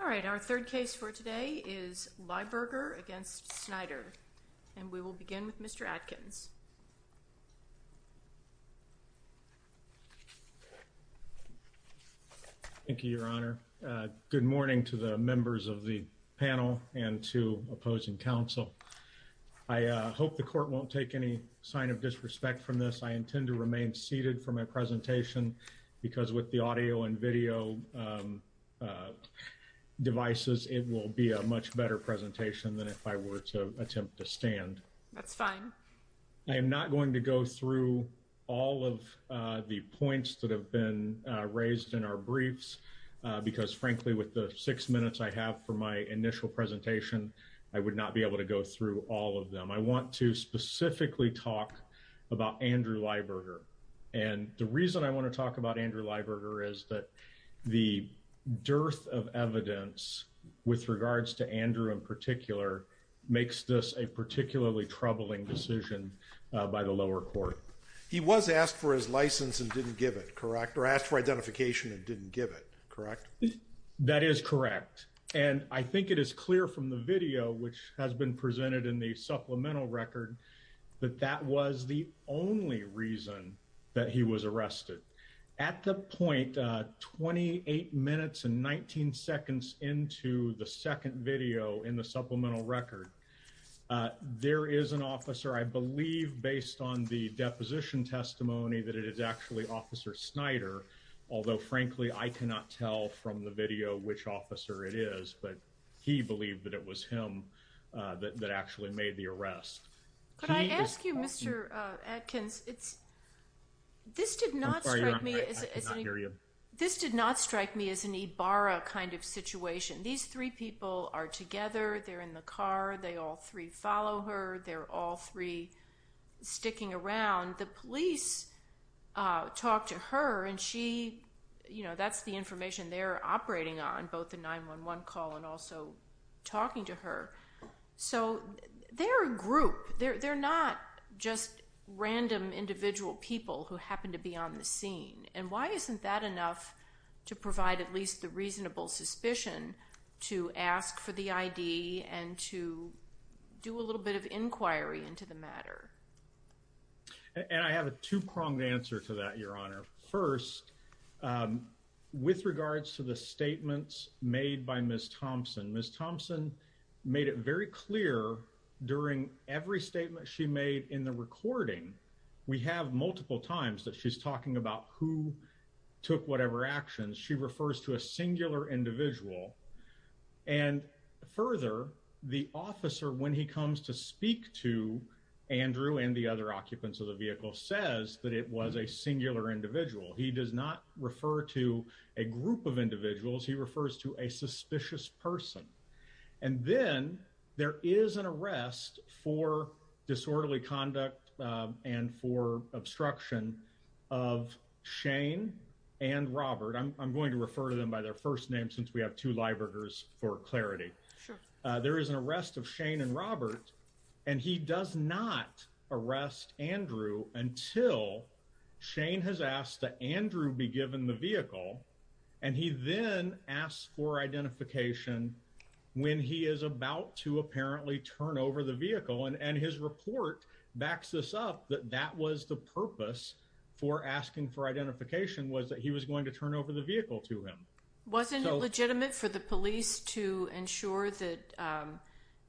All right, our third case for today is Lyberger against Snider and we will begin with Mr. Adkins. Thank you, Your Honor. Good morning to the members of the panel and to opposing counsel. I hope the court won't take any sign of disrespect from this. I intend to remain seated for my presentation because with the audio and video devices it will be a much better presentation than if I were to attempt to stand. That's fine. I am not going to go through all of the points that have been raised in our briefs because frankly with the six minutes I have for my initial presentation I would not be able to go through all of them. I want to specifically talk about Andrew Lyberger and the reason I want to talk about Andrew Lyberger is that the dearth of evidence with regards to Andrew in particular makes this a particularly troubling decision by the lower court. He was asked for his license and didn't give it, correct, or asked for identification and didn't give it, correct? That is correct and I think it is clear from the video which has been presented in the supplemental record that that was the only reason that he was arrested. At the point 28 minutes and 19 seconds into the second video in the supplemental record there is an officer I believe based on the deposition testimony that it is actually Officer Snyder although frankly I cannot tell from the video which officer it is but he believed that it was him that actually made the arrest. Can I ask you Mr. Atkins? This did not strike me as an Ibarra kind of situation. These three people are together, they're in the car, they all three follow her, they're all three sticking around. The police talked to her and she, you know, that's the information they're operating on both the 911 call and also talking to her. So they're a group. They're not just random individual people who happen to be on the scene and why isn't that enough to provide at least the reasonable suspicion to ask for the ID and to do a little bit of inquiry into the matter? And I have a two-pronged answer to that, Your Honor. First, with regards to the statements made by Ms. Thompson, Ms. Thompson made it very clear during every statement she made in the recording we have multiple times that she's talking about who took whatever actions. She refers to a singular individual and further, the officer when he comes to speak to Andrew and the other occupants of the vehicle says that it was a singular individual. He does not refer to a group of individuals. He refers to a suspicious person. And then there is an arrest for disorderly conduct and for obstruction of Shane and Robert. I'm going to refer to them by their first name since we have two liberters for clarity. There is an arrest of Shane and Robert and he does not arrest Andrew until Shane has asked that Andrew be given the vehicle and he then asks for identification when he is about to apparently turn over the vehicle and his report backs this up that that was the purpose for asking for identification was that he was going to turn over the vehicle to him. Wasn't it police to ensure that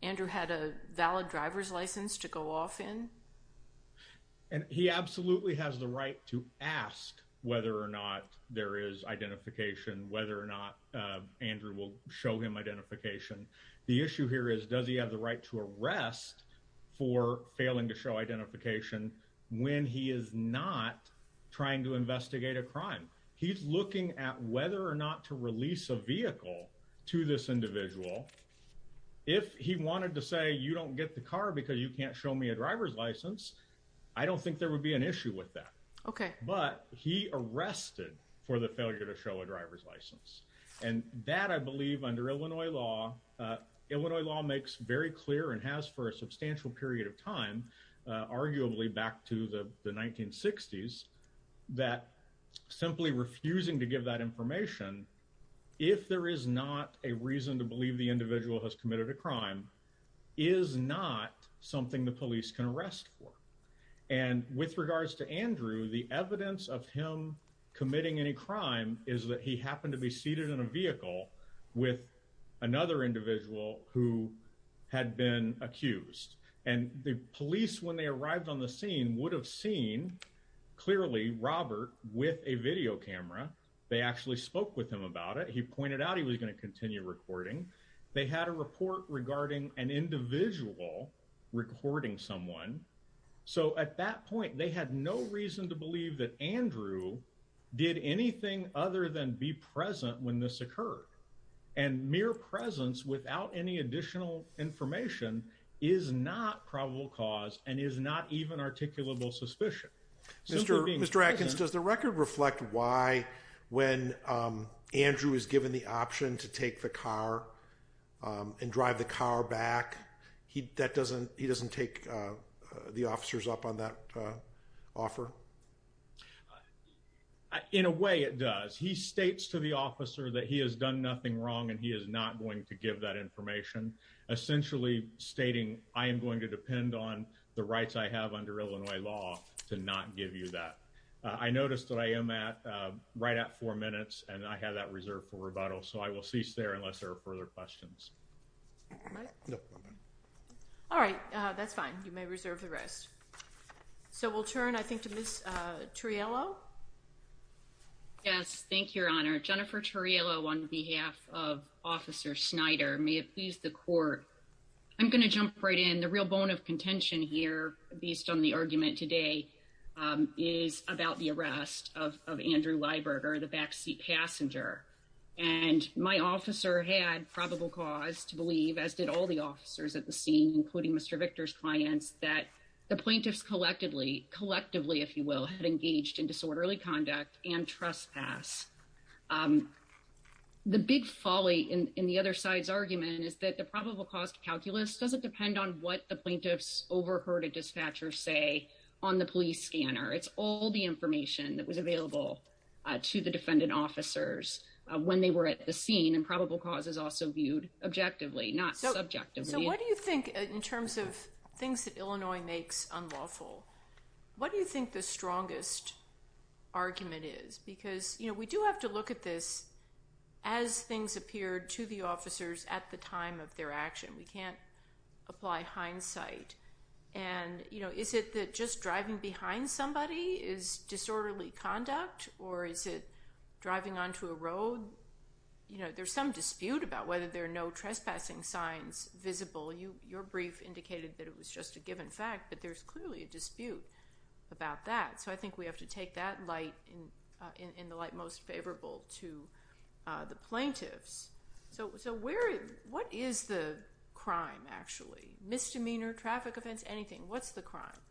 Andrew had a valid driver's license to go off in? And he absolutely has the right to ask whether or not there is identification, whether or not Andrew will show him identification. The issue here is does he have the right to arrest for failing to show identification when he is not trying to investigate a crime? He's looking at whether or not to release a to this individual. If he wanted to say you don't get the car because you can't show me a driver's license, I don't think there would be an issue with that. Okay, but he arrested for the failure to show a driver's license. And that I believe under Illinois law, Illinois law makes very clear and has for a substantial period of time, arguably back to the 1960s, that simply refusing to give that information if there is not a reason to believe the individual has committed a crime is not something the police can arrest for. And with regards to Andrew, the evidence of him committing any crime is that he happened to be seated in a vehicle with another individual who had been accused. And the police, when they arrived on the scene, would have seen clearly Robert with a video camera. They actually spoke with him about it. He pointed out he was going to continue recording. They had a report regarding an individual recording someone. So at that point, they had no reason to believe that Andrew did anything other than be present when this occurred. And mere presence without any additional information is not probable cause and is not even articulable suspicion. Mr. Atkins, does the record reflect why when Andrew is given the option to take the car and drive the car back, he doesn't take the officers up on that offer? In a way, it does. He states to the officer that he has done nothing wrong and he is not going to give that information. Essentially stating, I am going to depend on the rights I have under Illinois law to not give you that. I noticed that I am at right at four minutes and I have that reserved for rebuttal. So I will cease there unless there are further questions. All right. That's fine. You may reserve the rest. So we'll turn, I think, to Ms. Turriello. Yes. Thank you, Your Honor. Jennifer Turriello on behalf of Officer Snyder. May it please the court. I'm going to jump right in. The real bone of contention here, based on the argument today, is about the arrest of Andrew Lieberger, the backseat passenger. And my officer had probable cause to believe, as did all the officers at the scene, including Mr. Victor's clients, that the plaintiffs collectively, collectively, if you will, had engaged in disorderly conduct and trespass. The big folly in the other side's argument is that the probable cause calculus doesn't depend on what the plaintiffs overheard a dispatcher say on the police scanner. It's all the information that was available to the defendant officers when they were at the scene. And probable cause is also viewed objectively, not subjectively. So what do you think, in terms of things that Illinois makes unlawful, what do you think the strongest argument is? Because, you know, we do have to look at this as things appeared to the officers at the time of their action. We can't apply hindsight. And, you know, is it that just driving behind somebody is disorderly conduct? Or is it driving onto a road? You know, there's some dispute about whether there are no trespassing signs visible. Your brief indicated that it was just a given fact, but there's clearly a dispute about that. So I think we have to take that light in the light most favorable to the plaintiffs. So what is the crime, actually? Misdemeanor, traffic offense, anything. What's the crime?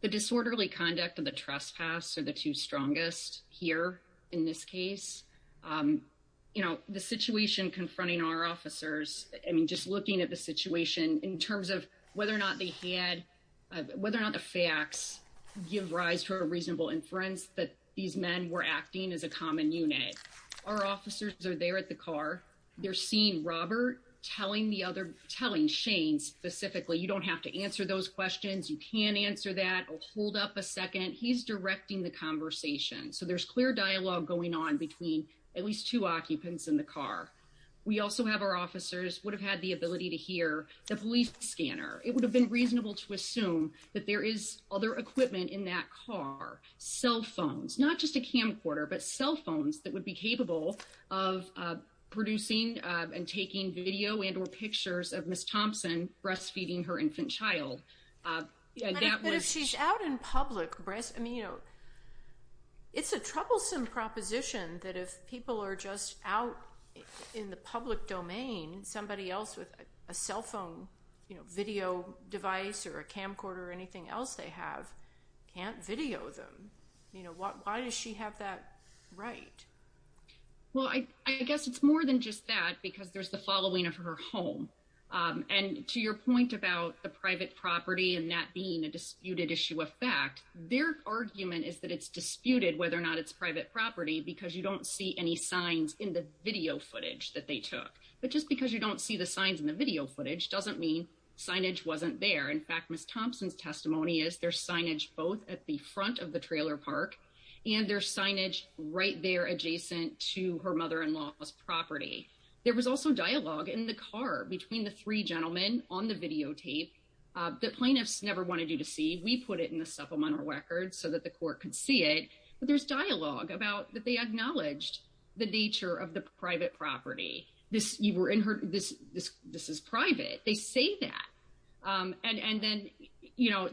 The disorderly conduct of the trespass are the two strongest here in this case. You know, the situation confronting our officers, I mean, just looking at the give rise to a reasonable inference that these men were acting as a common unit. Our officers are there at the car. They're seeing Robert telling the other telling Shane specifically, you don't have to answer those questions. You can answer that. Hold up a second. He's directing the conversation. So there's clear dialogue going on between at least two occupants in the car. We also have our officers would have had the ability to hear the police scanner. It would have been reasonable to assume that there is other equipment in that car cell phones, not just a camcorder, but cell phones that would be capable of producing and taking video and or pictures of Miss Thompson breastfeeding her infant child. Yeah, she's out in public breast. I mean, you know, it's a troublesome proposition that if people are just out in the public domain, somebody else with a cell phone video device or a camcorder or anything else they have can't video them. You know what? Why does she have that right? Well, I guess it's more than just that, because there's the following of her home on to your point about the private property and that being a disputed issue of fact, their argument is that it's disputed whether or not it's private property because you don't see any signs in the video footage that they took. But just because you don't see the signs in the video footage doesn't mean signage wasn't there. In fact, Miss Thompson's testimony is their signage both at the front of the trailer park and their signage right there adjacent to her mother in law's property. There was also dialogue in the car between the three gentlemen on the videotape that plaintiffs never wanted you to see. We put it in the supplemental records so that the court could see it. But there's dialogue about that. They acknowledged the nature of the private property. This you were in her. This this this is private. They say that. Um, and and then, you know,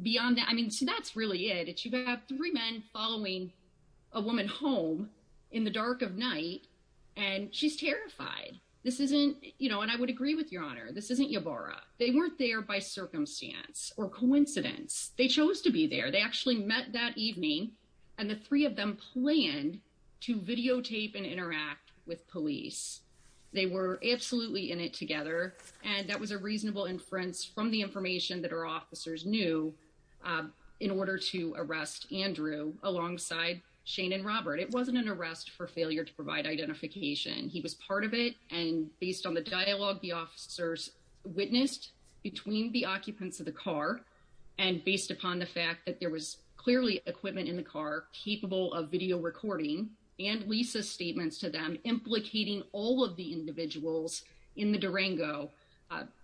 beyond that, I mean, so that's really it. You have three men following a woman home in the dark of night, and she's terrified. This isn't, you know, and I would agree with your honor. This isn't your borrow. They weren't there by circumstance or coincidence. They chose to be there. They actually met that evening, and the three of them planned to videotape and interact with police. They were absolutely in it together, and that was a reasonable inference from the information that our officers knew, uh, in order to arrest Andrew alongside Shane and Robert. It wasn't an arrest for failure to provide identification. He was part of it. And based on the dialogue, the officers witnessed between the occupants of the car and based upon the fact that there was clearly equipment in the car capable of video recording and Lisa statements to them, implicating all of the individuals in the Durango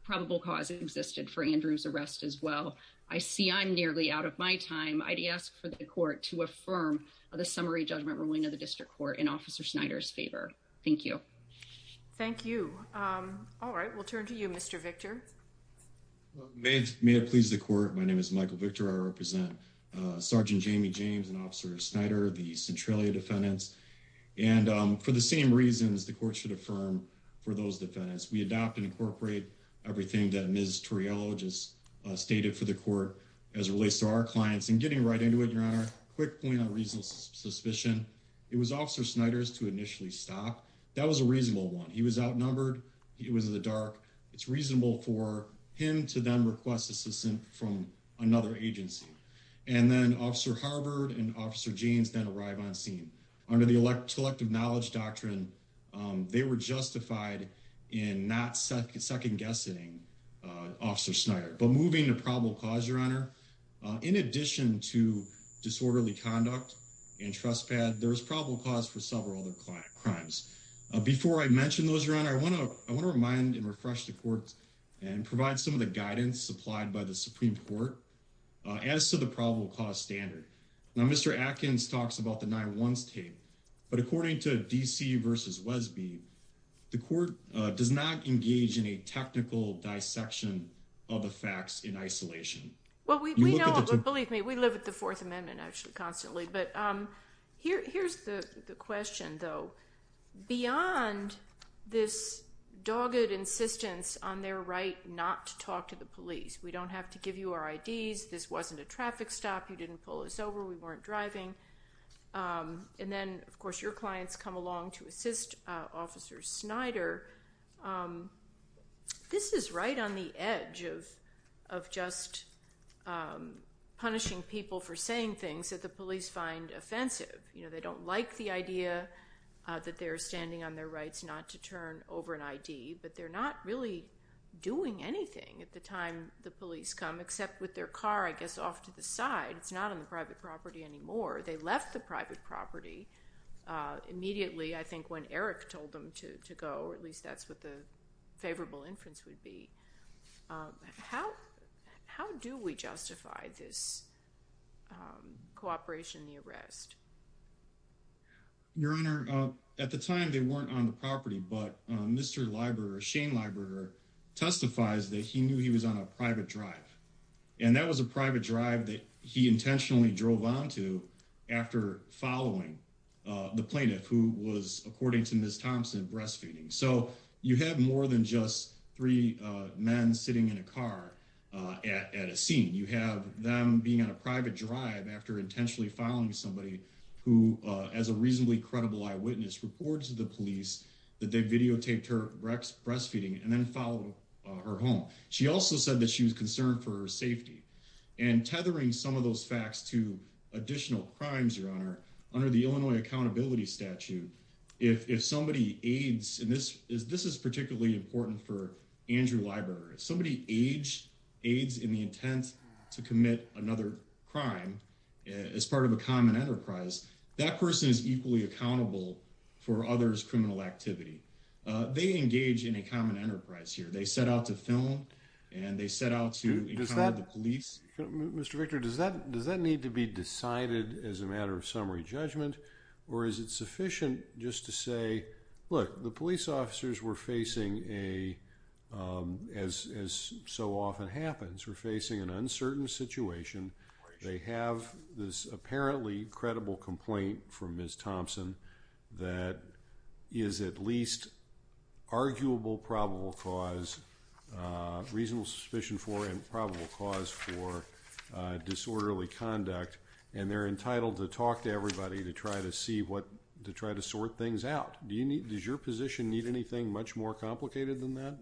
probable cause existed for Andrew's arrest as well. I see. I'm nearly out of my time. I'd ask for the court to affirm the summary judgment ruling of the district court in Officer Snyder's favor. Thank you. Thank you. Um, all right, we'll turn to you, Mr Victor. May it please the court. My name is Michael Victor. I represent Sergeant Jamie James and Officer Snyder, the Centralia defendants. And for the same reasons, the court should affirm for those defendants. We adopt and incorporate everything that Miss Toriello just stated for the court as relates to our clients and getting right into it. Your honor. Quick point on reasonable suspicion. It was Officer Snyder's to initially stop. That was a reasonable one. He was outnumbered. It was in the dark. It's reasonable for him to them request assistance from another agency and then Officer Harvard and Officer James that arrive on scene under the elect collective knowledge doctrine. Um, they were justified in not second guessing Officer Snyder, but moving to probable cause. Your honor. In addition to disorderly conduct and trust pad, there's probable cause for several other crimes. Before I mention those around, I want to I want to remind and refresh the court and provide some of the guidance supplied by the Supreme Court as to the probable cause standard. Now, Mr Atkins talks about the nine ones tape, but according to D. C versus Wesby, the court does not engage in a technical dissection of the facts in isolation. Well, we believe me. We live with the Fourth Amendment actually constantly. But, um, here's the question, though. Beyond this dogged insistence on their right not to talk to the police. We don't have to give you our IDs. This wasn't a traffic stop. You didn't pull us over. We weren't driving. Um, and then, of course, your clients come along to assist Officer Snyder. Um, this is right on the edge of of just, um, punishing people for saying things that the police find offensive. You know, they don't like the idea that they're standing on their rights not to turn over an I. D. But they're not really doing anything at the time. The police come except with their car, I guess, off to the side. It's not on the private property anymore. They left the private property. Uh, immediately, I think, when Eric told them to go, or at least that's what the favorable inference would be. How? How do we justify this, um, cooperation? The arrest? Your Honor. At the time, they weren't on the property. But Mr Libra Shane Libra testifies that he knew he was on a private drive, and that was a private drive that he intentionally drove on to after following the plaintiff, who was, more than just three men sitting in a car at a scene. You have them being on a private drive after intentionally following somebody who, as a reasonably credible eyewitness reports to the police that they videotaped her Rex breastfeeding and then followed her home. She also said that she was concerned for safety and tethering some of those facts to additional crimes. Your Honor, under the Illinois accountability statute, if somebody aids in this is this is particularly important for Andrew Library. Somebody age aids in the intent to commit another crime as part of a common enterprise. That person is equally accountable for others. Criminal activity. They engage in a common enterprise here. They set out to film and they set out to the police. Mr Victor, does that does that need to be Look, the police officers were facing a, as so often happens, were facing an uncertain situation. They have this apparently credible complaint for Ms. Thompson that is at least arguable probable cause, reasonable suspicion for, and probable cause for disorderly conduct, and they're entitled to talk to your position need anything much more complicated than that?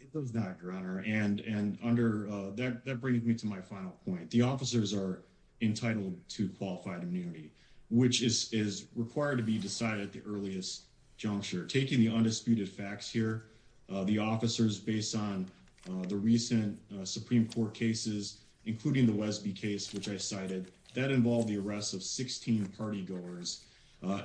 It does not, Your Honor. And and under that, that brings me to my final point. The officers are entitled to qualified immunity, which is required to be decided at the earliest juncture. Taking the undisputed facts here, the officers based on the recent Supreme Court cases, including the Westby case, which I cited that involved the arrest of 16 party goers.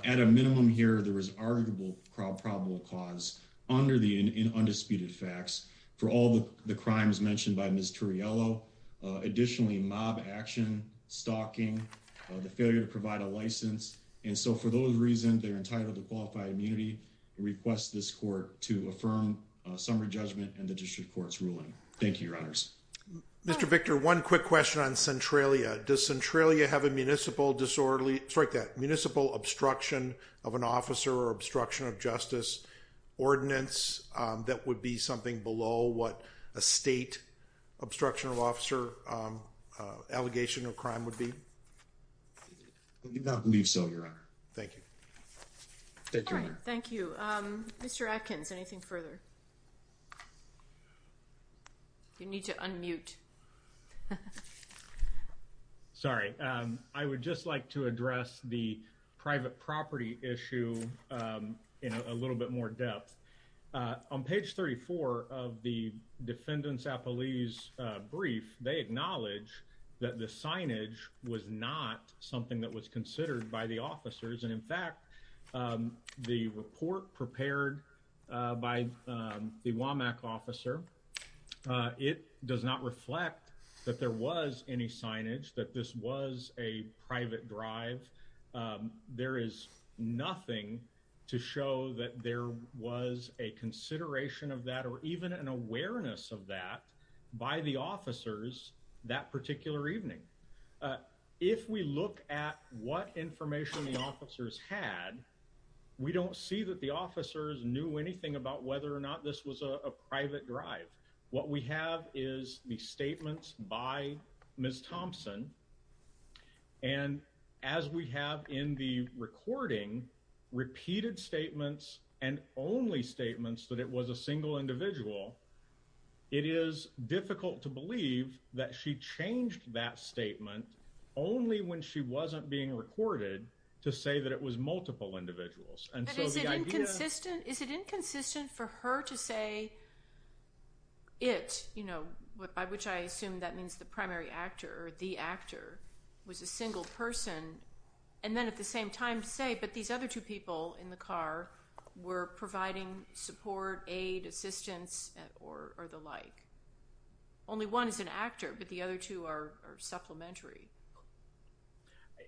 At a minimum here, there was arguable probable cause under the undisputed facts for all the crimes mentioned by Mr Yellow. Additionally, mob action, stalking, the failure to provide a license. And so for those reasons, they're entitled to qualified immunity. Request this court to affirm summary judgment and the district court's ruling. Thank you, Your Honors. Mr Victor, one quick question on Centralia. Does Centralia have a municipal disorderly strike that officer or obstruction of justice ordinance that would be something below what a state obstruction of officer, um, allegation of crime would be? I do not believe so, Your Honor. Thank you. Thank you, Mr Atkins. Anything further? You need to unmute. Sorry. Um, I would just like to address the private property issue, um, in a little bit more depth. Uh, on page 34 of the defendants a police brief, they acknowledge that the signage was not something that was considered by the officers. And in fact, um, the report prepared by the Womack officer, uh, it does not reflect that there was any signage that this was a private drive. Um, there is nothing to show that there was a consideration of that or even an awareness of that by the officers that particular evening. Uh, if we look at what information the officers had, we don't see that the officers knew anything about whether or not this was a private drive. What we have is the statements by Ms Thompson. And as we have in the recording, repeated statements and only statements that it was a single individual. It is difficult to believe that she changed that statement only when she wasn't being recorded to say that it was inconsistent for her to say it, you know, by which I assume that means the primary actor, the actor was a single person. And then at the same time say, but these other two people in the car were providing support, aid, assistance or the like. Only one is an actor, but the other two are supplementary.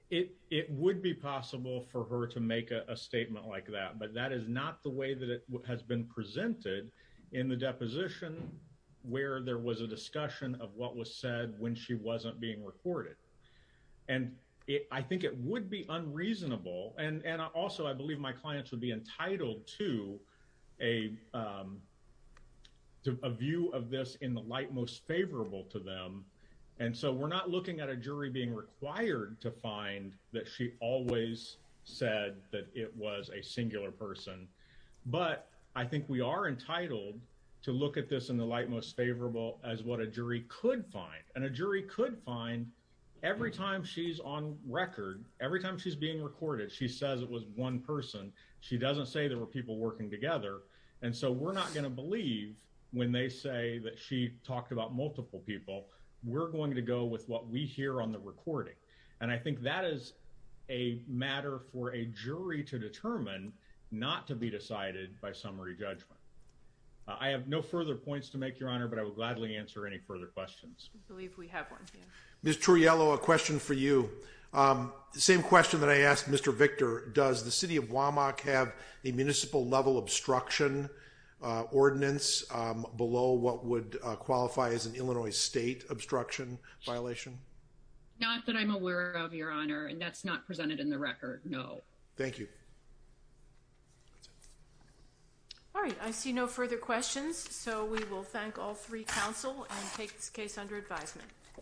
It would be possible for her to make a statement like that. But that is not the way that it has been presented in the deposition where there was a discussion of what was said when she wasn't being recorded. And I think it would be unreasonable. And also, I believe my clients would be entitled to a, um, a view of this in the light most favorable to them. And so we're not looking at a jury being required to find that she always said that it was a but I think we are entitled to look at this in the light most favorable as what a jury could find. And a jury could find every time she's on record every time she's being recorded, she says it was one person. She doesn't say there were people working together. And so we're not going to believe when they say that she talked about multiple people. We're going to go with what we hear on the recording. And I think that is a matter for a jury to determine not to be decided by summary judgment. I have no further points to make your honor, but I would gladly answer any further questions. I believe we have one. Yeah, Mr. Yellow. A question for you. Um, same question that I asked Mr Victor. Does the city of Womack have a municipal level obstruction ordinance below what would qualify as an Illinois state obstruction violation? Not that I'm aware of your honor, and that's not presented in the record. No, thank you. That's it. All right. I see no further questions, so we will thank all three council and take this case under advisement.